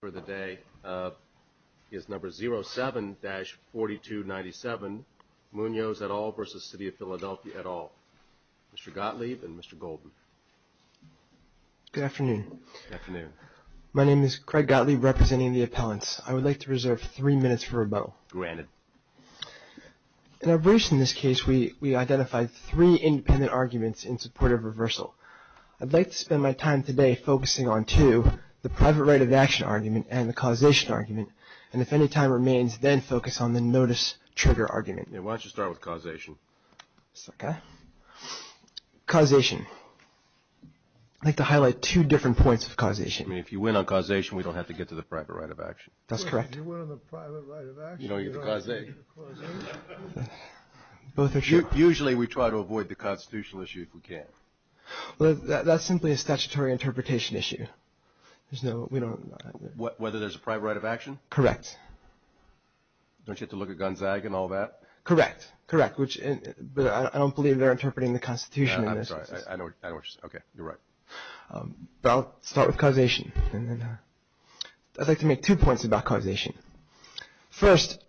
for the day is number 07-4297 Munoz et al. v. Cityof Philadelphia et al. Mr. Gottlieb and Mr. Golden. Good afternoon. Good afternoon. My name is Craig Gottlieb, representing the appellants. I would like to reserve three minutes for rebuttal. Granted. In our briefs in this case, we identified three independent arguments in support of reversal. I'd like to spend my time today focusing on two, the private right of action argument and the causation argument, and if any time remains, then focus on the notice-trigger argument. Why don't you start with causation? Okay. Causation. I'd like to highlight two different points of causation. I mean, if you win on causation, we don't have to get to the private right of action. That's correct. If you win on the private right of action, you don't have to get to causation. Both are true. Usually we try to avoid the constitutional issue if we can. Well, that's simply a statutory interpretation issue. There's no, we don't. Whether there's a private right of action? Correct. Don't you have to look at Gonzaga and all that? Correct. Correct, which, but I don't believe they're interpreting the Constitution in this. I'm sorry. I know what you're saying. Okay. You're right. But I'll start with causation. I'd like to make two points about causation. First,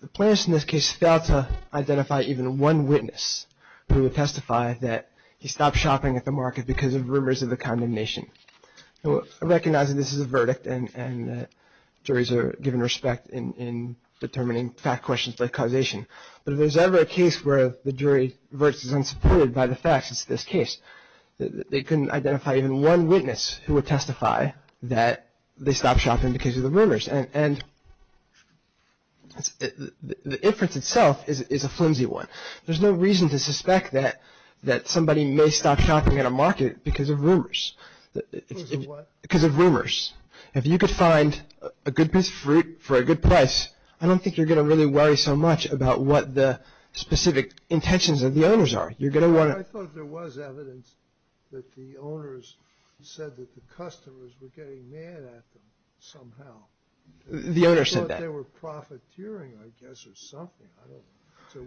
the plaintiffs in this case failed to identify even one witness who would testify that he stopped shopping at the market because of rumors of a condemnation. I recognize that this is a verdict, and that juries are given respect in determining fact questions like causation. But if there's ever a case where the jury's verdict is unsupported by the facts, it's this case. They couldn't identify even one witness who would testify that they stopped shopping because of the rumors. And the inference itself is a flimsy one. There's no reason to suspect that somebody may stop shopping at a market because of rumors. Because of what? Because of rumors. If you could find a good piece of fruit for a good price, I don't think you're going to really worry so much about what the specific intentions of the owners are. I thought there was evidence that the owners said that the customers were getting mad at them somehow. The owners said that. I thought they were profiteering, I guess, or something. It's a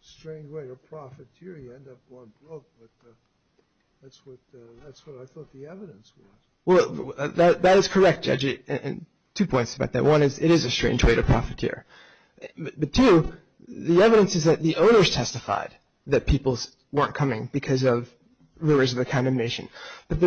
strange way to profiteer. You end up going broke, but that's what I thought the evidence was. Well, that is correct, Judge. Two points about that. One is it is a strange way to profiteer. But two, the evidence is that the owners testified that people weren't coming because of rumors of a condemnation. But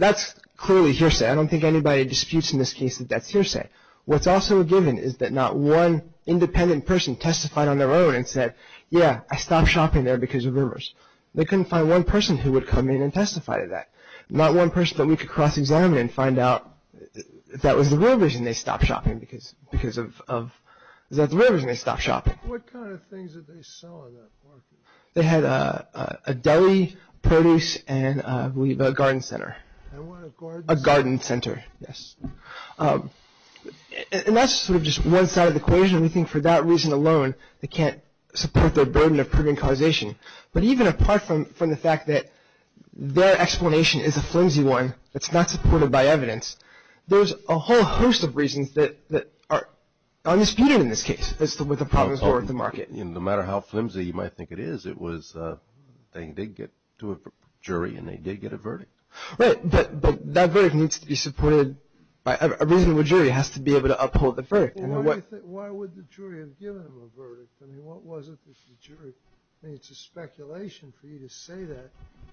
that's clearly hearsay. I don't think anybody disputes in this case that that's hearsay. What's also given is that not one independent person testified on their own and said, yeah, I stopped shopping there because of rumors. They couldn't find one person who would come in and testify to that. Not one person that we could cross-examine and find out if that was the real reason they stopped shopping. Is that the real reason they stopped shopping? What kind of things did they sell in that market? They had a deli, produce, and I believe a garden center. A garden center. A garden center, yes. And that's sort of just one side of the equation. We think for that reason alone they can't support their burden of proven causation. But even apart from the fact that their explanation is a flimsy one that's not supported by evidence, there's a whole host of reasons that are undisputed in this case as to what the problems were with the market. No matter how flimsy you might think it is, it was they did get to a jury and they did get a verdict. Right, but that verdict needs to be supported by a reasonable jury. It has to be able to uphold the verdict. Why would the jury have given them a verdict? I mean, what was it that the jury, I mean, it's a speculation for you to say that,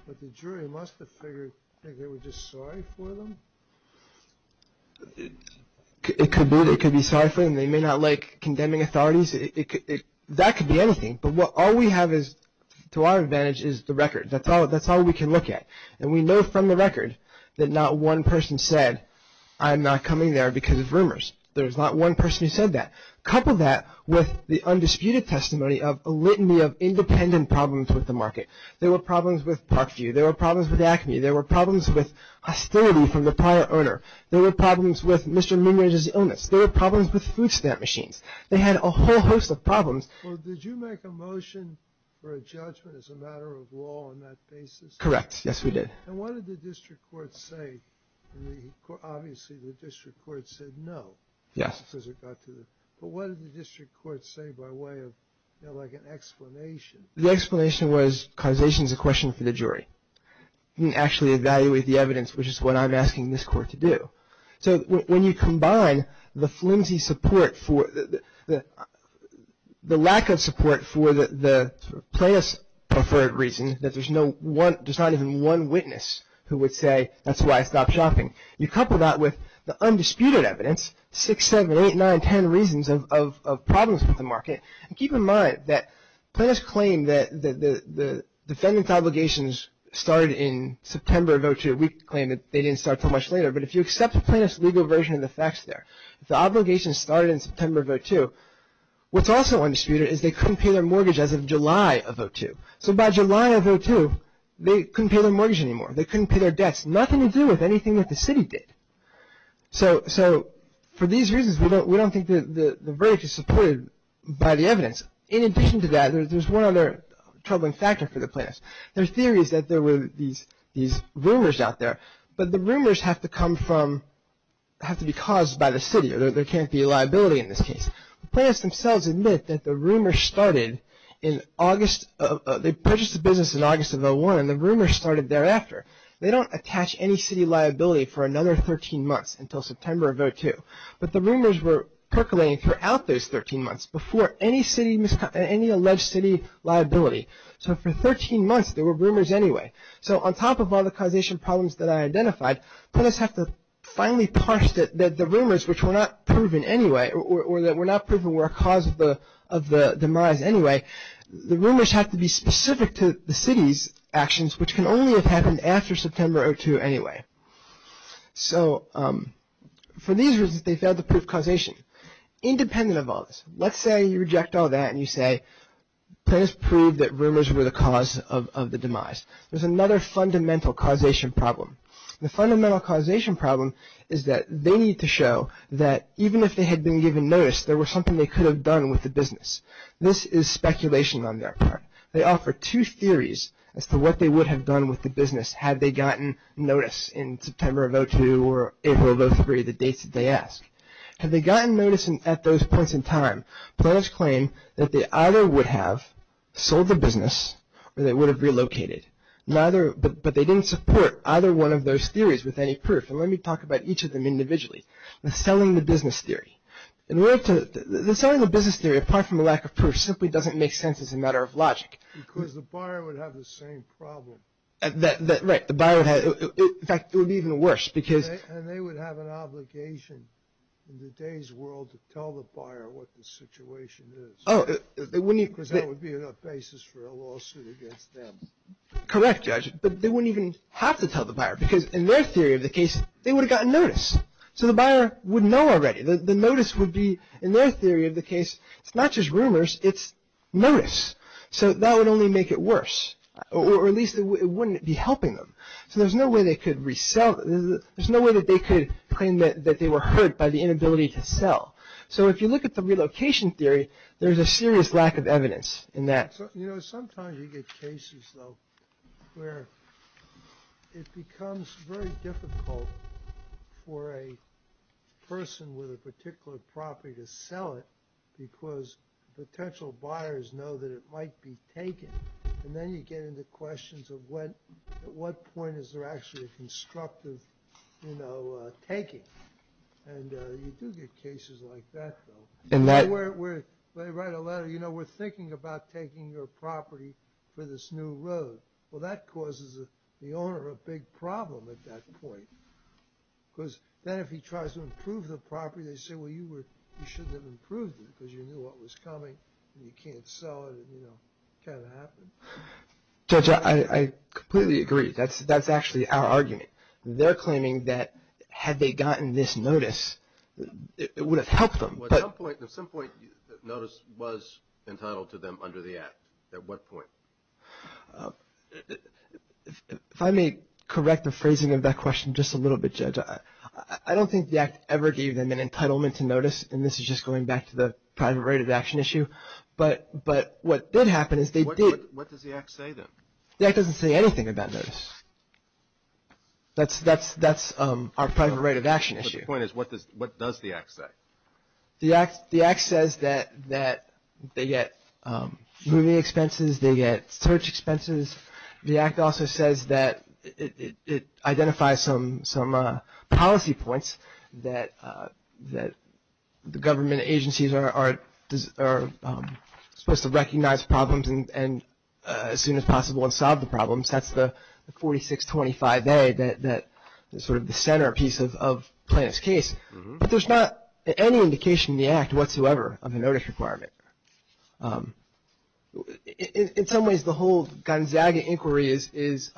but the jury must have figured that they were just sorry for them. It could be. They could be sorry for them. They may not like condemning authorities. That could be anything. But all we have to our advantage is the record. That's all we can look at. And we know from the record that not one person said, I'm not coming there because of rumors. There's not one person who said that. Couple that with the undisputed testimony of a litany of independent problems with the market. There were problems with Parkview. There were problems with Acme. There were problems with hostility from the prior owner. There were problems with Mr. Minerage's illness. There were problems with food stamp machines. They had a whole host of problems. Well, did you make a motion for a judgment as a matter of law on that basis? Correct, yes, we did. And what did the district court say? Obviously, the district court said no. Yes. But what did the district court say by way of, you know, like an explanation? The explanation was causation is a question for the jury. You can't actually evaluate the evidence, which is what I'm asking this court to do. So when you combine the flimsy support for the lack of support for the plaintiff's preferred reason, that there's not even one witness who would say, that's why I stopped shopping. You couple that with the undisputed evidence, 6, 7, 8, 9, 10 reasons of problems with the market. Keep in mind that plaintiffs claim that the defendant's obligations started in September of 2002. We claim that they didn't start until much later. But if you accept the plaintiff's legal version of the facts there, if the obligations started in September of 2002, what's also undisputed is they couldn't pay their mortgage as of July of 2002. So by July of 2002, they couldn't pay their mortgage anymore. They couldn't pay their debts. It has nothing to do with anything that the city did. So for these reasons, we don't think that the verdict is supported by the evidence. In addition to that, there's one other troubling factor for the plaintiffs. Their theory is that there were these rumors out there. But the rumors have to come from, have to be caused by the city. There can't be a liability in this case. The plaintiffs themselves admit that the rumors started in August, they purchased the business in August of 2001 and the rumors started thereafter. They don't attach any city liability for another 13 months until September of 2002. But the rumors were percolating throughout those 13 months before any city, any alleged city liability. So for 13 months, there were rumors anyway. So on top of all the causation problems that I identified, plaintiffs have to finally parse the rumors which were not proven anyway or that were not proven were a cause of the demise anyway. The rumors have to be specific to the city's actions, which can only have happened after September 2002 anyway. So for these reasons, they failed to prove causation. Independent of all this, let's say you reject all that and you say, plaintiffs proved that rumors were the cause of the demise. There's another fundamental causation problem. The fundamental causation problem is that they need to show that even if they had been given notice, there was something they could have done with the business. This is speculation on their part. They offer two theories as to what they would have done with the business had they gotten notice in September of 2002 or April of 2003, the dates that they ask. Had they gotten notice at those points in time, plaintiffs claim that they either would have sold the business or they would have relocated. But they didn't support either one of those theories with any proof. And let me talk about each of them individually. The selling the business theory. The selling the business theory, apart from a lack of proof, simply doesn't make sense as a matter of logic. Because the buyer would have the same problem. Right. In fact, it would be even worse because. And they would have an obligation in today's world to tell the buyer what the situation is. Because that would be enough basis for a lawsuit against them. Correct, Judge. But they wouldn't even have to tell the buyer because in their theory of the case, they would have gotten notice. So the buyer would know already. The notice would be, in their theory of the case, it's not just rumors, it's notice. So that would only make it worse. Or at least it wouldn't be helping them. So there's no way they could resell. There's no way that they could claim that they were hurt by the inability to sell. So if you look at the relocation theory, there's a serious lack of evidence in that. Sometimes you get cases, though, where it becomes very difficult for a person with a particular property to sell it because potential buyers know that it might be taken. And then you get into questions of at what point is there actually a constructive taking. And you do get cases like that, though. They write a letter, you know, we're thinking about taking your property for this new road. Well, that causes the owner a big problem at that point. Because then if he tries to improve the property, they say, well, you shouldn't have improved it because you knew what was coming and you can't sell it. It kind of happened. Judge, I completely agree. That's actually our argument. They're claiming that had they gotten this notice, it would have helped them. At some point, the notice was entitled to them under the Act. At what point? If I may correct the phrasing of that question just a little bit, Judge, I don't think the Act ever gave them an entitlement to notice. And this is just going back to the private right of action issue. But what did happen is they did. What does the Act say, then? The Act doesn't say anything about notice. That's our private right of action issue. My point is, what does the Act say? The Act says that they get moving expenses, they get search expenses. The Act also says that it identifies some policy points that the government agencies are supposed to recognize problems as soon as possible and solve the problems. That's the 4625A, sort of the centerpiece of Plaintiff's case. But there's not any indication in the Act whatsoever of a notice requirement. In some ways, the whole Gonzaga inquiry is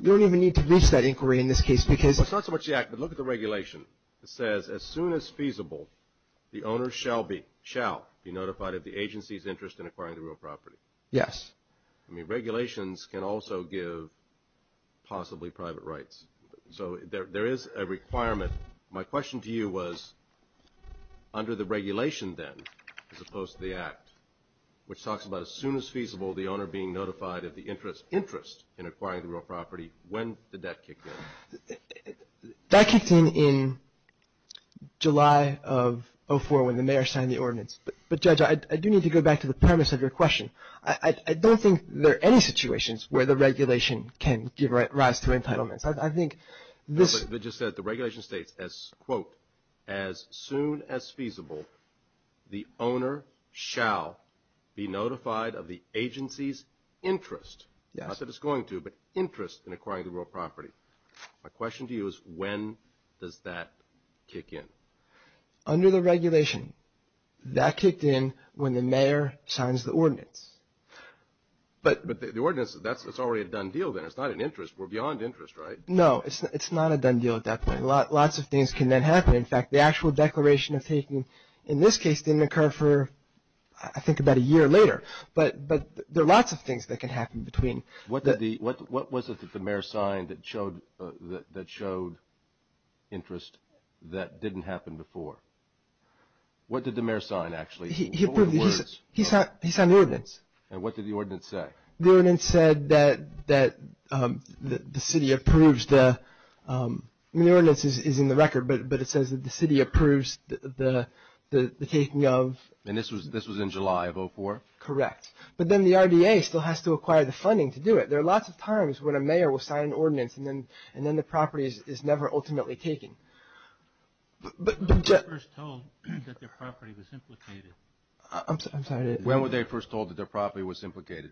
you don't even need to reach that inquiry in this case because – It's not so much the Act, but look at the regulation. It says, as soon as feasible, the owner shall be notified of the agency's interest in acquiring the real property. Yes. I mean, regulations can also give possibly private rights. So there is a requirement. My question to you was under the regulation, then, as opposed to the Act, which talks about as soon as feasible, the owner being notified of the interest in acquiring the real property. When did that kick in? But, Judge, I do need to go back to the premise of your question. I don't think there are any situations where the regulation can give rise to entitlements. I think this – It just says the regulation states, as, quote, as soon as feasible, the owner shall be notified of the agency's interest. Not that it's going to, but interest in acquiring the real property. My question to you is when does that kick in? Under the regulation, that kicked in when the mayor signs the ordinance. But the ordinance, that's already a done deal, then. It's not an interest. We're beyond interest, right? No, it's not a done deal at that point. Lots of things can then happen. In fact, the actual declaration of taking, in this case, didn't occur for, I think, about a year later. But there are lots of things that can happen between. What was it that the mayor signed that showed interest that didn't happen before? What did the mayor sign, actually? He approved it. He signed the ordinance. And what did the ordinance say? The ordinance said that the city approves the – I mean, the ordinance is in the record, but it says that the city approves the taking of – And this was in July of 2004? Correct. But then the RDA still has to acquire the funding to do it. There are lots of times when a mayor will sign an ordinance and then the property is never ultimately taken. When were they first told that their property was implicated? I'm sorry. When were they first told that their property was implicated?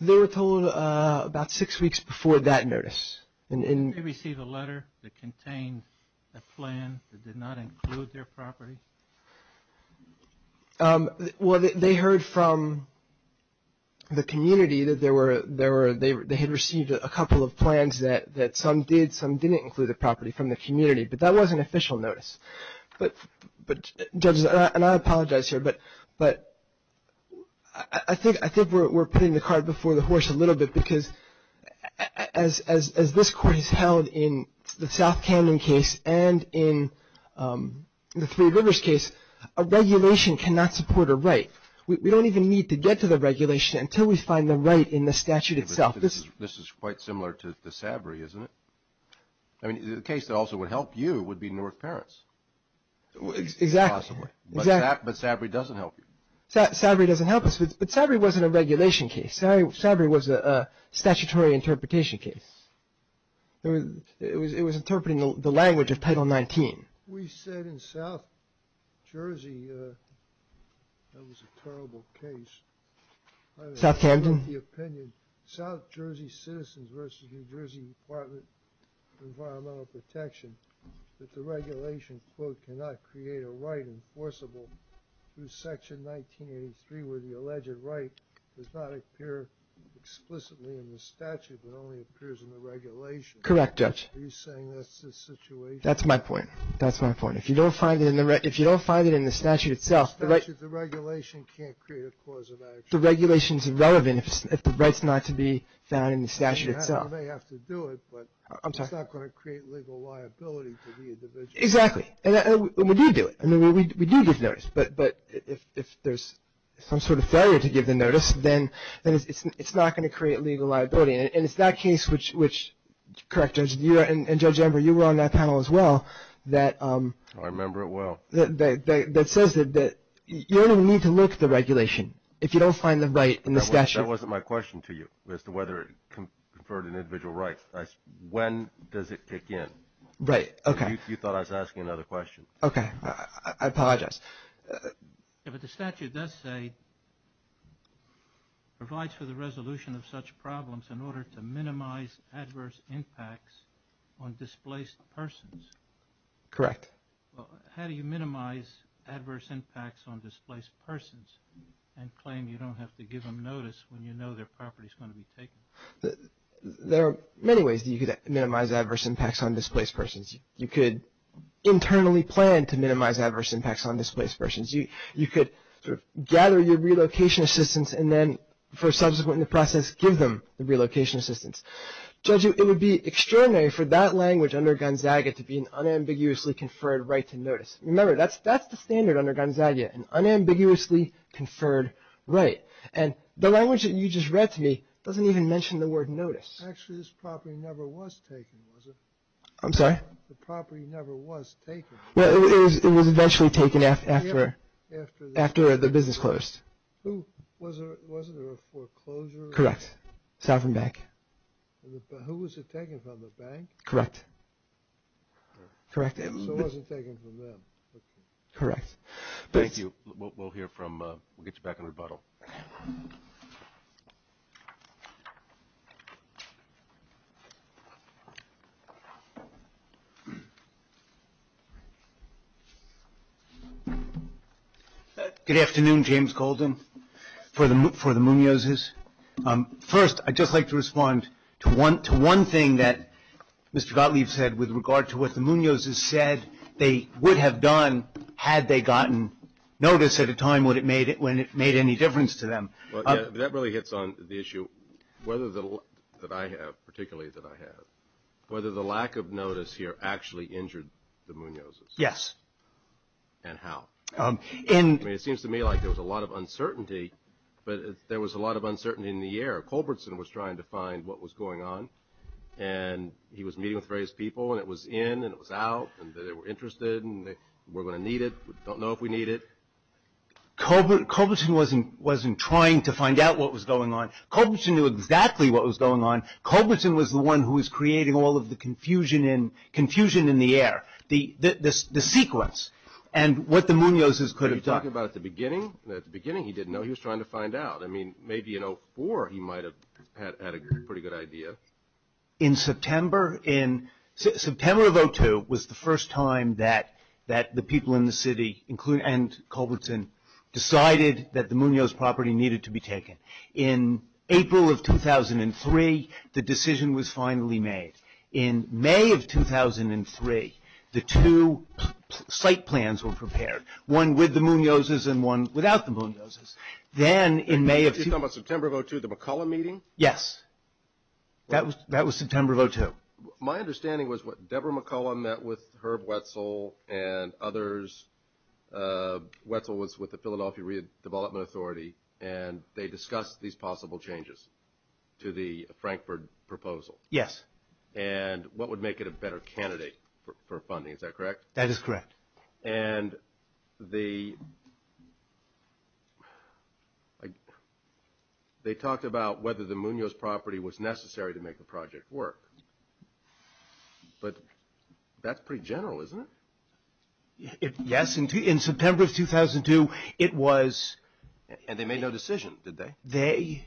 They were told about six weeks before that notice. Did they receive a letter that contained a plan that did not include their property? Well, they heard from the community that they had received a couple of plans that some did, some didn't include the property from the community. But that was an official notice. But, judges, and I apologize here, but I think we're putting the cart before the horse a little bit because as this court has held in the South Canyon case and in the Three Rivers case, a regulation cannot support a right. We don't even need to get to the regulation until we find the right in the statute itself. This is quite similar to the SABRI, isn't it? I mean, the case that also would help you would be Newark Parents. Exactly. Possibly. But SABRI doesn't help you. SABRI doesn't help us. But SABRI wasn't a regulation case. SABRI was a statutory interpretation case. It was interpreting the language of Title 19. We said in South Jersey, that was a terrible case. Southampton? I don't have the opinion. South Jersey Citizens versus New Jersey Department of Environmental Protection, that the regulation, quote, cannot create a right enforceable through Section 1983 where the alleged right does not appear explicitly in the statute, but only appears in the regulation. Correct, Judge. Are you saying that's the situation? That's my point. That's my point. If you don't find it in the statute itself. The regulation can't create a cause of action. The regulation's irrelevant if the right's not to be found in the statute itself. You may have to do it, but it's not going to create legal liability to the individual. Exactly. And we do do it. We do give notice, but if there's some sort of failure to give the notice, then it's not going to create legal liability. And it's that case, which, correct, Judge, and Judge Ember, you were on that panel as well. I remember it well. That says that you don't even need to look at the regulation if you don't find the right in the statute. That wasn't my question to you as to whether it conferred an individual right. When does it kick in? Right. Okay. You thought I was asking another question. Okay. I apologize. Yeah, but the statute does say provides for the resolution of such problems in order to minimize adverse impacts on displaced persons. Correct. How do you minimize adverse impacts on displaced persons and claim you don't have to give them notice when you know their property's going to be taken? There are many ways that you could minimize adverse impacts on displaced persons. You could internally plan to minimize adverse impacts on displaced persons. You could gather your relocation assistance and then, for subsequent in the process, give them the relocation assistance. Judge, it would be extraordinary for that language under Gonzaga to be an unambiguously conferred right to notice. Remember, that's the standard under Gonzaga, an unambiguously conferred right. And the language that you just read to me doesn't even mention the word notice. Actually, this property never was taken, was it? I'm sorry? The property never was taken. Well, it was eventually taken after the business closed. Wasn't there a foreclosure? Correct. Sovereign Bank. Who was it taken from, the bank? Correct. So it wasn't taken from them. Correct. Thank you. We'll get you back in rebuttal. Good afternoon. James Goldin for the Munozes. First, I'd just like to respond to one thing that Mr. Gottlieb said with regard to what the Munozes said they would have done had they gotten notice at a time when it made any difference to them. That really hits on the issue that I have, particularly that I have, whether the lack of notice here actually injured the Munozes. Yes. And how. I mean, it seems to me like there was a lot of uncertainty, but there was a lot of uncertainty in the air. Culbertson was trying to find what was going on, and he was meeting with various people, and it was in and it was out, and they were interested, and we're going to need it. We don't know if we need it. Culbertson wasn't trying to find out what was going on. Culbertson knew exactly what was going on. Culbertson was the one who was creating all of the confusion in the air, the sequence, and what the Munozes could have done. Are you talking about at the beginning? At the beginning he didn't know. He was trying to find out. I mean, maybe in 04 he might have had a pretty good idea. In September of 02 was the first time that the people in the city, including Culbertson, decided that the Munoz property needed to be taken. In April of 2003, the decision was finally made. In May of 2003, the two site plans were prepared, one with the Munozes and one without the Munozes. You're talking about September of 02, the McCullough meeting? Yes. That was September of 02. My understanding was that Deborah McCullough met with Herb Wetzel and others. Wetzel was with the Philadelphia Redevelopment Authority, and they discussed these possible changes to the Frankfurt proposal. Yes. And what would make it a better candidate for funding. Is that correct? That is correct. And they talked about whether the Munoz property was necessary to make the project work. But that's pretty general, isn't it? Yes. In September of 02, it was. And they made no decision, did they?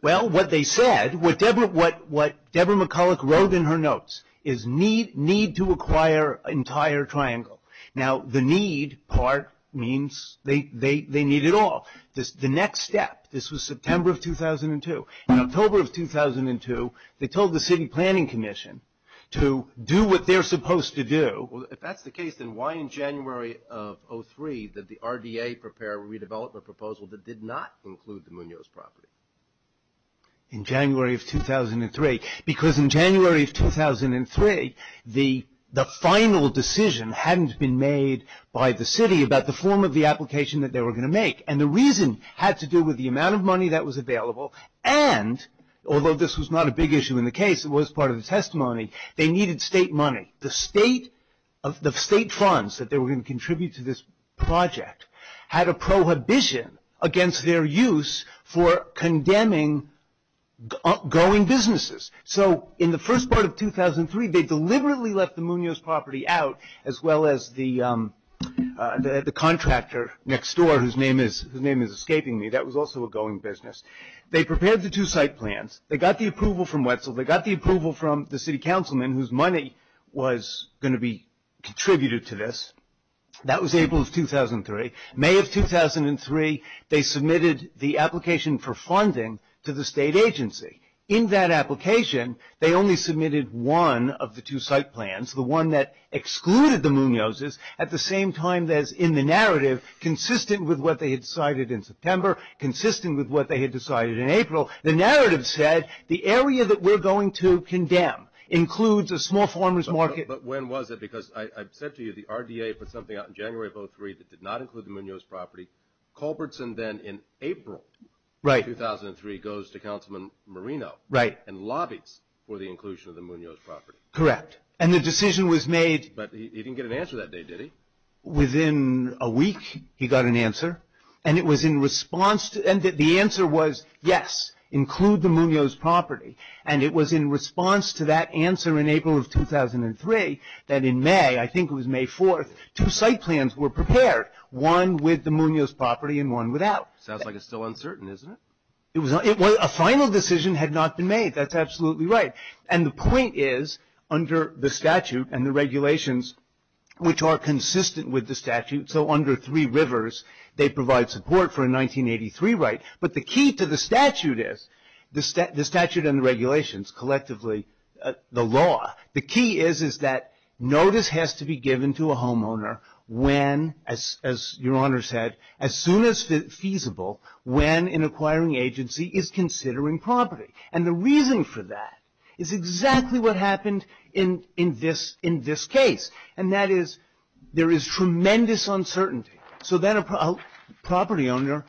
Well, what they said, what Deborah McCullough wrote in her notes, is need to acquire entire triangle. Now, the need part means they need it all. The next step, this was September of 2002. In October of 2002, they told the City Planning Commission to do what they're supposed to do. Well, if that's the case, then why in January of 03 did the RDA prepare a redevelopment proposal that did not include the Munoz property? In January of 2003. Because in January of 2003, the final decision hadn't been made by the city about the form of the application that they were going to make. And the reason had to do with the amount of money that was available, and although this was not a big issue in the case, it was part of the testimony, they needed state money. The state funds that they were going to contribute to this project had a prohibition against their use for condemning going businesses. So, in the first part of 2003, they deliberately left the Munoz property out, as well as the contractor next door, whose name is escaping me. That was also a going business. They prepared the two site plans. They got the approval from Wetzel. They got the approval from the city councilman, whose money was going to be contributed to this. That was April of 2003. May of 2003, they submitted the application for funding to the state agency. In that application, they only submitted one of the two site plans, the one that excluded the Munoz's, at the same time as in the narrative, consistent with what they had decided in September, consistent with what they had decided in April. The narrative said, the area that we're going to condemn includes a small farmers market. But when was it? Because I said to you, the RDA put something out in January of 2003 that did not include the Munoz property. Culbertson then, in April of 2003, goes to Councilman Marino and lobbies for the inclusion of the Munoz property. Correct. And the decision was made. But he didn't get an answer that day, did he? Within a week, he got an answer. And it was in response to – and the answer was, yes, include the Munoz property. And it was in response to that answer in April of 2003 that in May, I think it was May 4th, two site plans were prepared, one with the Munoz property and one without. Sounds like it's still uncertain, isn't it? A final decision had not been made. That's absolutely right. And the point is, under the statute and the regulations, which are consistent with the statute, so under three rivers, they provide support for a 1983 right. But the key to the statute is, the statute and the regulations, collectively, the law, the key is that notice has to be given to a homeowner when, as Your Honor said, as soon as feasible, when an acquiring agency is considering property. And the reason for that is exactly what happened in this case. And that is, there is tremendous uncertainty. So then a property owner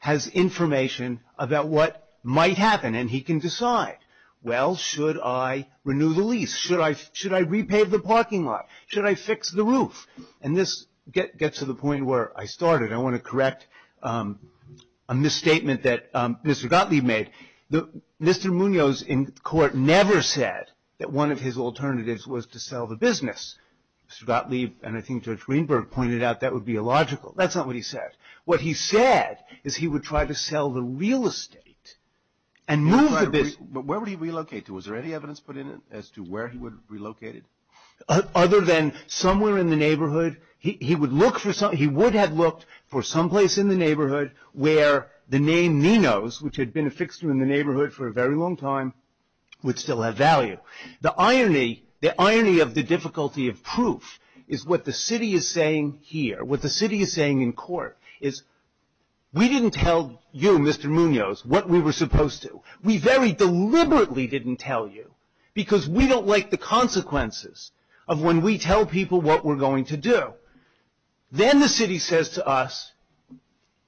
has information about what might happen. And he can decide, well, should I renew the lease? Should I repave the parking lot? Should I fix the roof? And this gets to the point where I started. I want to correct a misstatement that Mr. Gottlieb made. Mr. Munoz in court never said that one of his alternatives was to sell the business. Mr. Gottlieb and I think Judge Weinberg pointed out that would be illogical. That's not what he said. What he said is he would try to sell the real estate and move the business. But where would he relocate to? Was there any evidence put in it as to where he would relocate it? Other than somewhere in the neighborhood. He would have looked for someplace in the neighborhood where the name Nino's, which had been a fixture in the neighborhood for a very long time, would still have value. The irony of the difficulty of proof is what the city is saying here. What the city is saying in court is we didn't tell you, Mr. Munoz, what we were supposed to. We very deliberately didn't tell you because we don't like the consequences of when we tell people what we're going to do. Then the city says to us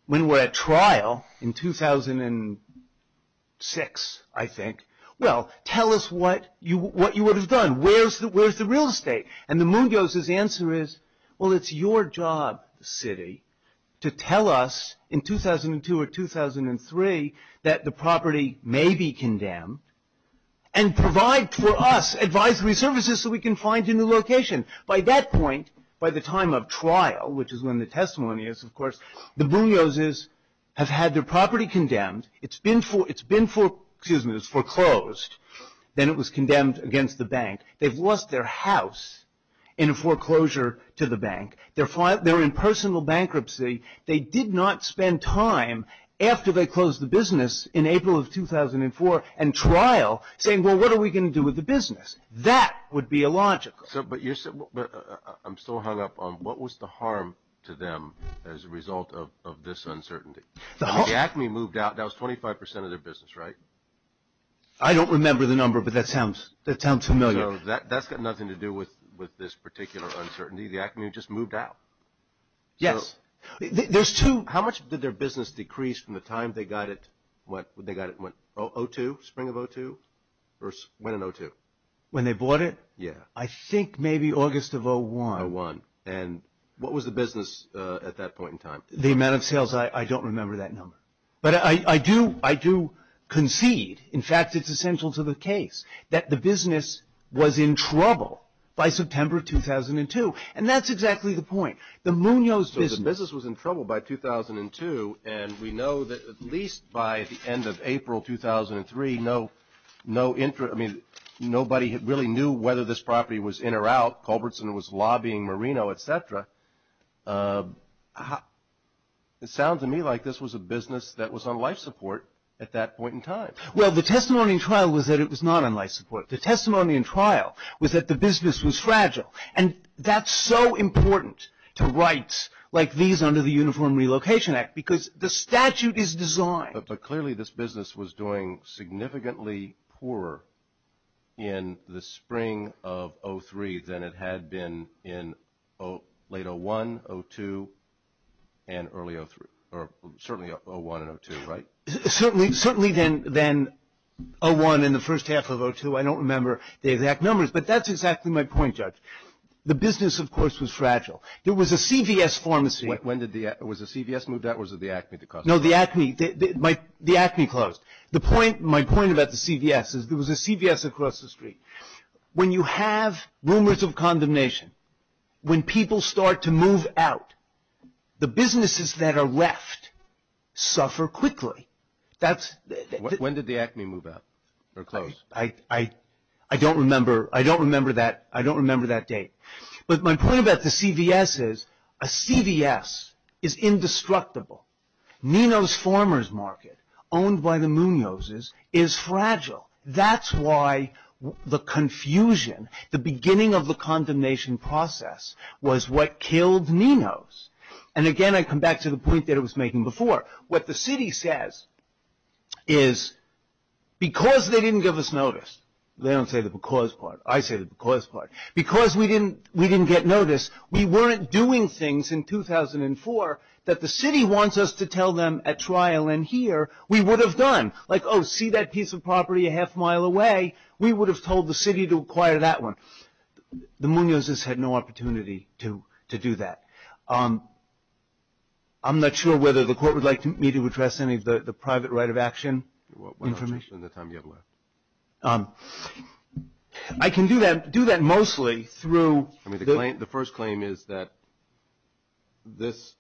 when we're at trial in 2006, I think, well, tell us what you would have done. Where's the real estate? And the Munoz's answer is, well, it's your job, city, to tell us in 2002 or 2003 that the property may be condemned and provide for us advisory services so we can find a new location. By that point, by the time of trial, which is when the testimony is, of course, the Munoz's have had their property condemned. It's been foreclosed. Then it was condemned against the bank. They've lost their house in a foreclosure to the bank. They're in personal bankruptcy. They did not spend time after they closed the business in April of 2004 and trial saying, well, what are we going to do with the business? That would be illogical. But I'm still hung up on what was the harm to them as a result of this uncertainty? The ACME moved out. That was 25 percent of their business, right? I don't remember the number, but that sounds familiar. So that's got nothing to do with this particular uncertainty. The ACME just moved out. Yes. There's two. How much did their business decrease from the time they got it, what, when they got it, what, 2002, spring of 2002, or when in 2002? When they bought it? Yes. I think maybe August of 2001. And what was the business at that point in time? The amount of sales, I don't remember that number. But I do concede, in fact, it's essential to the case, that the business was in trouble by September of 2002. And that's exactly the point. So the business was in trouble by 2002, and we know that at least by the end of April 2003, nobody really knew whether this property was in or out. Culbertson was lobbying Marino, et cetera. It sounds to me like this was a business that was on life support at that point in time. Well, the testimony in trial was that it was not on life support. The testimony in trial was that the business was fragile. And that's so important to rights like these under the Uniform Relocation Act, because the statute is designed. But clearly this business was doing significantly poorer in the spring of 2003 than it had been in late 2001, 2002, and early 2003, or certainly 2001 and 2002, right? Certainly than 2001 and the first half of 2002. I don't remember the exact numbers, but that's exactly my point, Judge. The business, of course, was fragile. There was a CVS pharmacy. Was the CVS moved out or was it the Acme that closed? No, the Acme. The Acme closed. My point about the CVS is there was a CVS across the street. When you have rumors of condemnation, when people start to move out, the businesses that are left suffer quickly. When did the Acme move out or close? I don't remember that date. But my point about the CVS is a CVS is indestructible. Nino's Farmer's Market, owned by the Munozes, is fragile. That's why the confusion, the beginning of the condemnation process, was what killed Nino's. And again, I come back to the point that I was making before. What the city says is, because they didn't give us notice. They don't say the because part. I say the because part. Because we didn't get notice, we weren't doing things in 2004 that the city wants us to tell them at trial, and here we would have done. Like, oh, see that piece of property a half mile away? We would have told the city to acquire that one. The Munozes had no opportunity to do that. I'm not sure whether the court would like me to address any of the private right of action information. In the time you have left. I can do that mostly through. The first claim is that this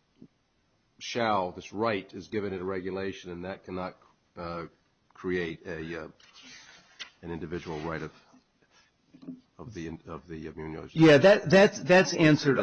shall, this right, is given in regulation, and that cannot create an individual right of the Munozes. Yeah, that's answered.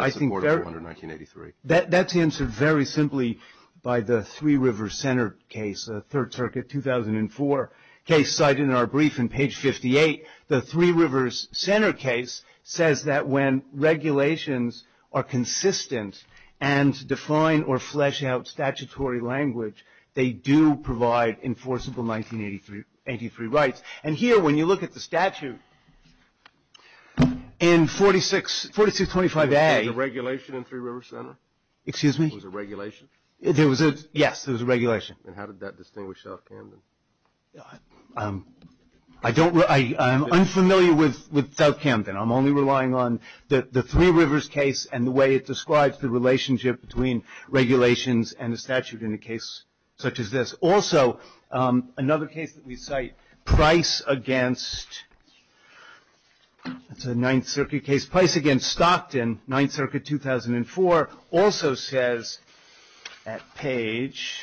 That's answered very simply by the Three Rivers Center case, a Third Circuit 2004 case cited in our brief in page 58. The Three Rivers Center case says that when regulations are consistent and define or flesh out statutory language, they do provide enforceable 1983 rights. And here when you look at the statute in 4625A. Was there regulation in Three Rivers Center? Excuse me? Was there regulation? Yes, there was a regulation. And how did that distinguish South Camden? I'm unfamiliar with South Camden. I'm only relying on the Three Rivers case and the way it describes the relationship between regulations and the statute in a case such as this. Also, another case that we cite, Price against, that's a Ninth Circuit case. Price against Stockton, Ninth Circuit 2004, also says at page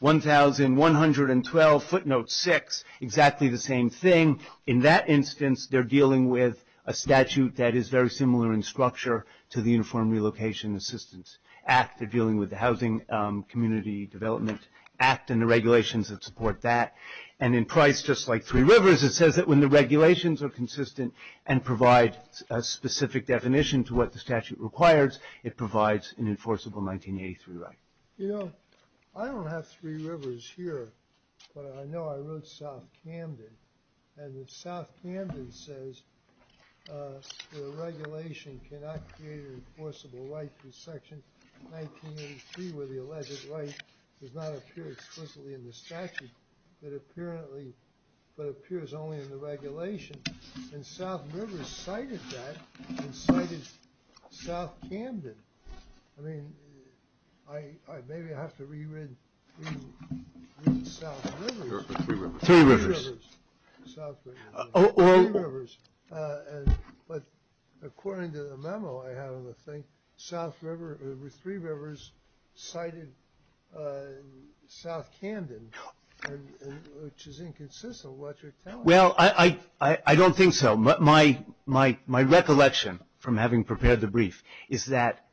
1112, footnote 6, exactly the same thing. In that instance, they're dealing with a statute that is very similar in structure to the Uniform Relocation Assistance Act. They're dealing with the Housing Community Development Act and the regulations that support that. And in Price, just like Three Rivers, it says that when the regulations are consistent and provide a specific definition to what the statute requires, it provides an enforceable 1983 right. You know, I don't have Three Rivers here, but I know I wrote South Camden. And South Camden says the regulation cannot create an enforceable right through Section 1983 where the alleged right does not appear explicitly in the statute, but appears only in the regulation. And South Rivers cited that and cited South Camden. I mean, maybe I have to re-read South Rivers. Three Rivers. But according to the memo I have on the thing, Three Rivers cited South Camden, which is inconsistent with what you're telling me. Well, I don't think so. My recollection from having prepared the brief is that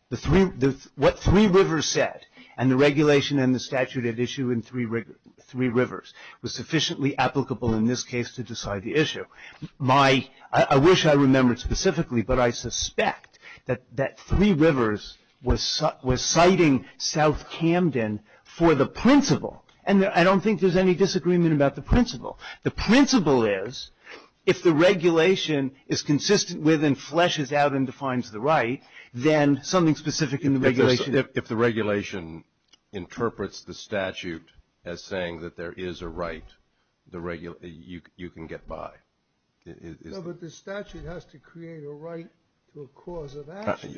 what Three Rivers said and the regulation and the statute at issue in Three Rivers was sufficiently applicable in this case to decide the issue. I wish I remembered specifically, but I suspect that Three Rivers was citing South Camden for the principle. And I don't think there's any disagreement about the principle. The principle is if the regulation is consistent with and fleshes out and defines the right, then something specific in the regulation. If the regulation interprets the statute as saying that there is a right, you can get by. No, but the statute has to create a right to a cause of action.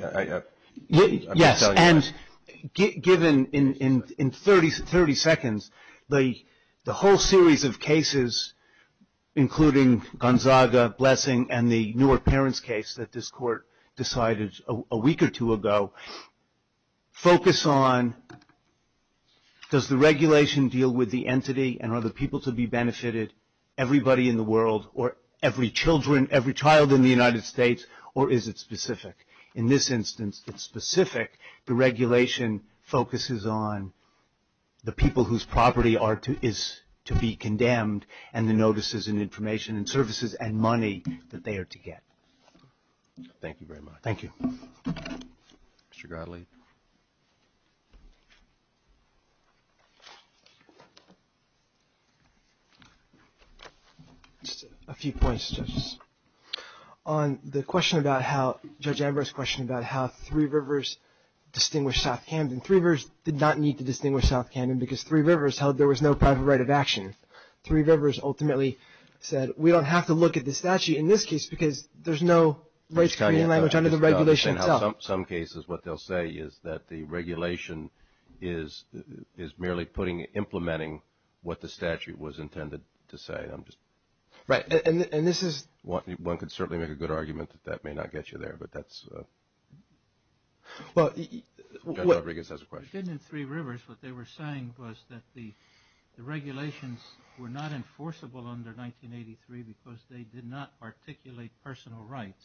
Yes. And given in 30 seconds the whole series of cases, including Gonzaga, Blessing, and the newer parents case that this court decided a week or two ago, focus on does the regulation deal with the entity and are the people to be benefited, everybody in the world or every child in the United States, or is it specific? The regulation focuses on the people whose property is to be condemned and the notices and information and services and money that they are to get. Thank you very much. Thank you. Mr. Gottlieb. Just a few points, judges. On the question about how, Judge Ambrose's question about how Three Rivers distinguished South Camden. Three Rivers did not need to distinguish South Camden because Three Rivers held there was no private right of action. Three Rivers ultimately said we don't have to look at the statute in this case because there's no rights-creating language under the regulation itself. In some cases what they'll say is that the regulation is merely putting, implementing what the statute was intended to say. Right, and this is, one could certainly make a good argument that that may not get you there, but that's, Judge Rodriguez has a question. In Three Rivers what they were saying was that the regulations were not enforceable under 1983 because they did not articulate personal rights.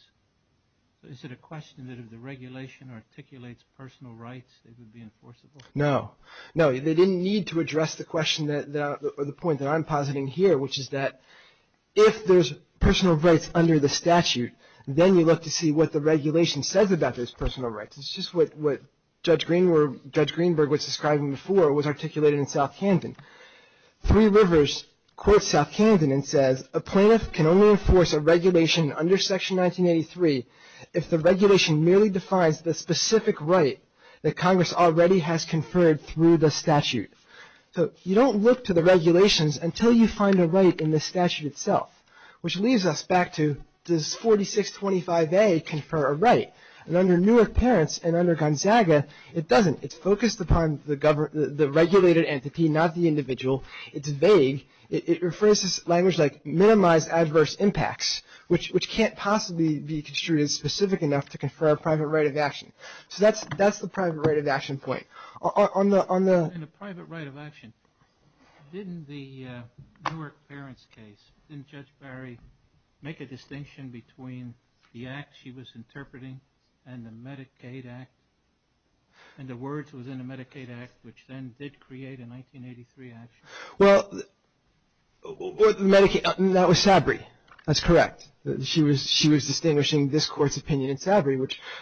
Is it a question that if the regulation articulates personal rights they would be enforceable? No. No, they didn't need to address the question or the point that I'm positing here, which is that if there's personal rights under the statute, then you look to see what the regulation says about those personal rights. It's just what Judge Greenberg was describing before was articulated in South Camden. Three Rivers quotes South Camden and says, a plaintiff can only enforce a regulation under Section 1983 if the regulation merely defines the specific right that Congress already has conferred through the statute. So you don't look to the regulations until you find a right in the statute itself, which leads us back to does 4625A confer a right? And under Newark Parents and under Gonzaga it doesn't. It's focused upon the regulated entity, not the individual. It's vague. It refers to language like minimize adverse impacts, which can't possibly be construed as specific enough to confer a private right of action. So that's the private right of action point. In the private right of action, didn't the Newark Parents case, didn't Judge Barry make a distinction between the act she was interpreting and the Medicaid Act and the words within the Medicaid Act, which then did create a 1983 action? Well, that was Sabri. That's correct. She was distinguishing this Court's opinion in Sabri,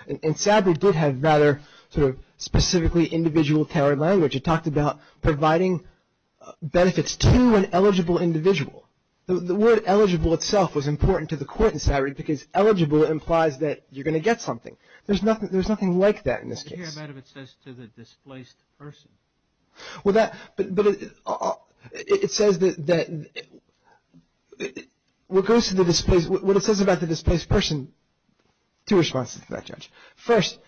and Sabri did have rather sort of specifically individual tailored language. It talked about providing benefits to an eligible individual. The word eligible itself was important to the Court in Sabri because eligible implies that you're going to get something. There's nothing like that in this case. I hear that if it says to the displaced person. Well, it says that what it says about the displaced person, two responses to that, Judge. First,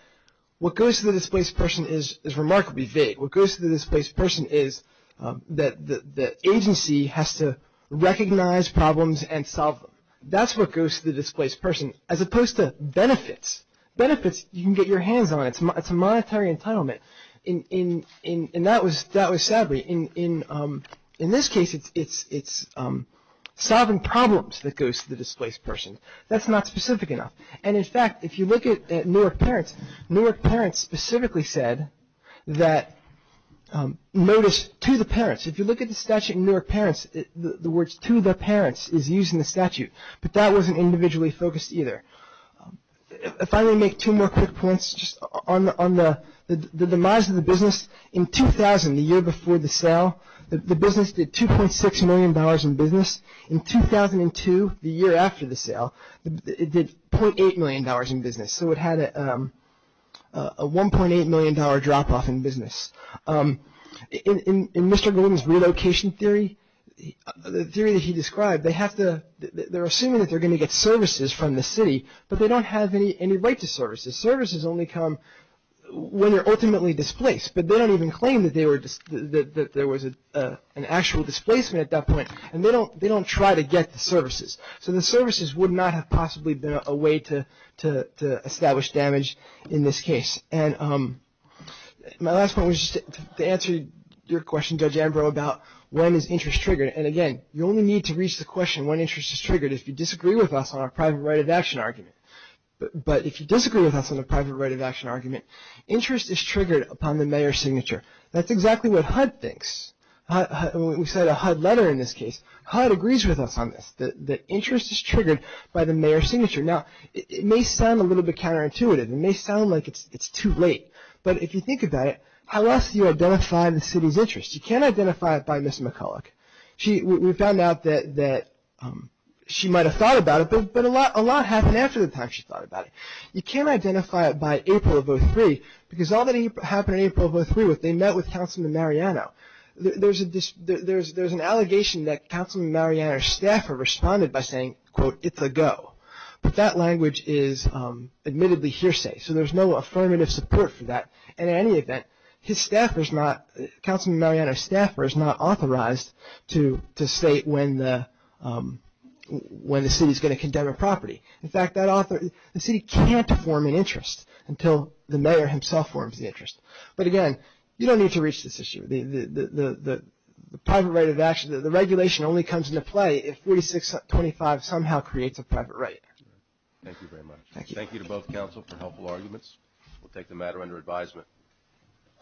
what goes to the displaced person is remarkably vague. What goes to the displaced person is that the agency has to recognize problems and solve them. That's what goes to the displaced person as opposed to benefits. Benefits you can get your hands on. It's a monetary entitlement, and that was Sabri. In this case, it's solving problems that goes to the displaced person. That's not specific enough. And, in fact, if you look at Newark Parents, Newark Parents specifically said that notice to the parents. If you look at the statute in Newark Parents, the words to the parents is used in the statute, but that wasn't individually focused either. If I may make two more quick points just on the demise of the business. In 2000, the year before the sale, the business did $2.6 million in business. In 2002, the year after the sale, it did $0.8 million in business, so it had a $1.8 million drop-off in business. In Mr. Gordon's relocation theory, the theory that he described, they're assuming that they're going to get services from the city, but they don't have any right to services. Services only come when they're ultimately displaced, but they don't even claim that there was an actual displacement at that point, and they don't try to get the services. So the services would not have possibly been a way to establish damage in this case. And my last point was just to answer your question, Judge Ambrose, about when is interest triggered. And again, you only need to reach the question when interest is triggered if you disagree with us on our private right of action argument. But if you disagree with us on the private right of action argument, interest is triggered upon the mayor's signature. That's exactly what HUD thinks. We cite a HUD letter in this case. HUD agrees with us on this, that interest is triggered by the mayor's signature. Now, it may sound a little bit counterintuitive. It may sound like it's too late. But if you think about it, how else do you identify the city's interest? You can't identify it by Ms. McCulloch. We found out that she might have thought about it, but a lot happened after the time she thought about it. You can't identify it by April of 2003, because all that happened in April of 2003 was they met with Councilman Mariano. There's an allegation that Councilman Mariano's staffer responded by saying, quote, it's a go. But that language is admittedly hearsay. So there's no affirmative support for that. And in any event, his staffer is not, Councilman Mariano's staffer is not authorized to state when the city is going to condemn a property. In fact, the city can't form an interest until the mayor himself forms the interest. But again, you don't need to reach this issue. The private right of action, the regulation only comes into play if 4625 somehow creates a private right. Thank you very much. Thank you to both Council for helpful arguments. We'll take the matter under advisement.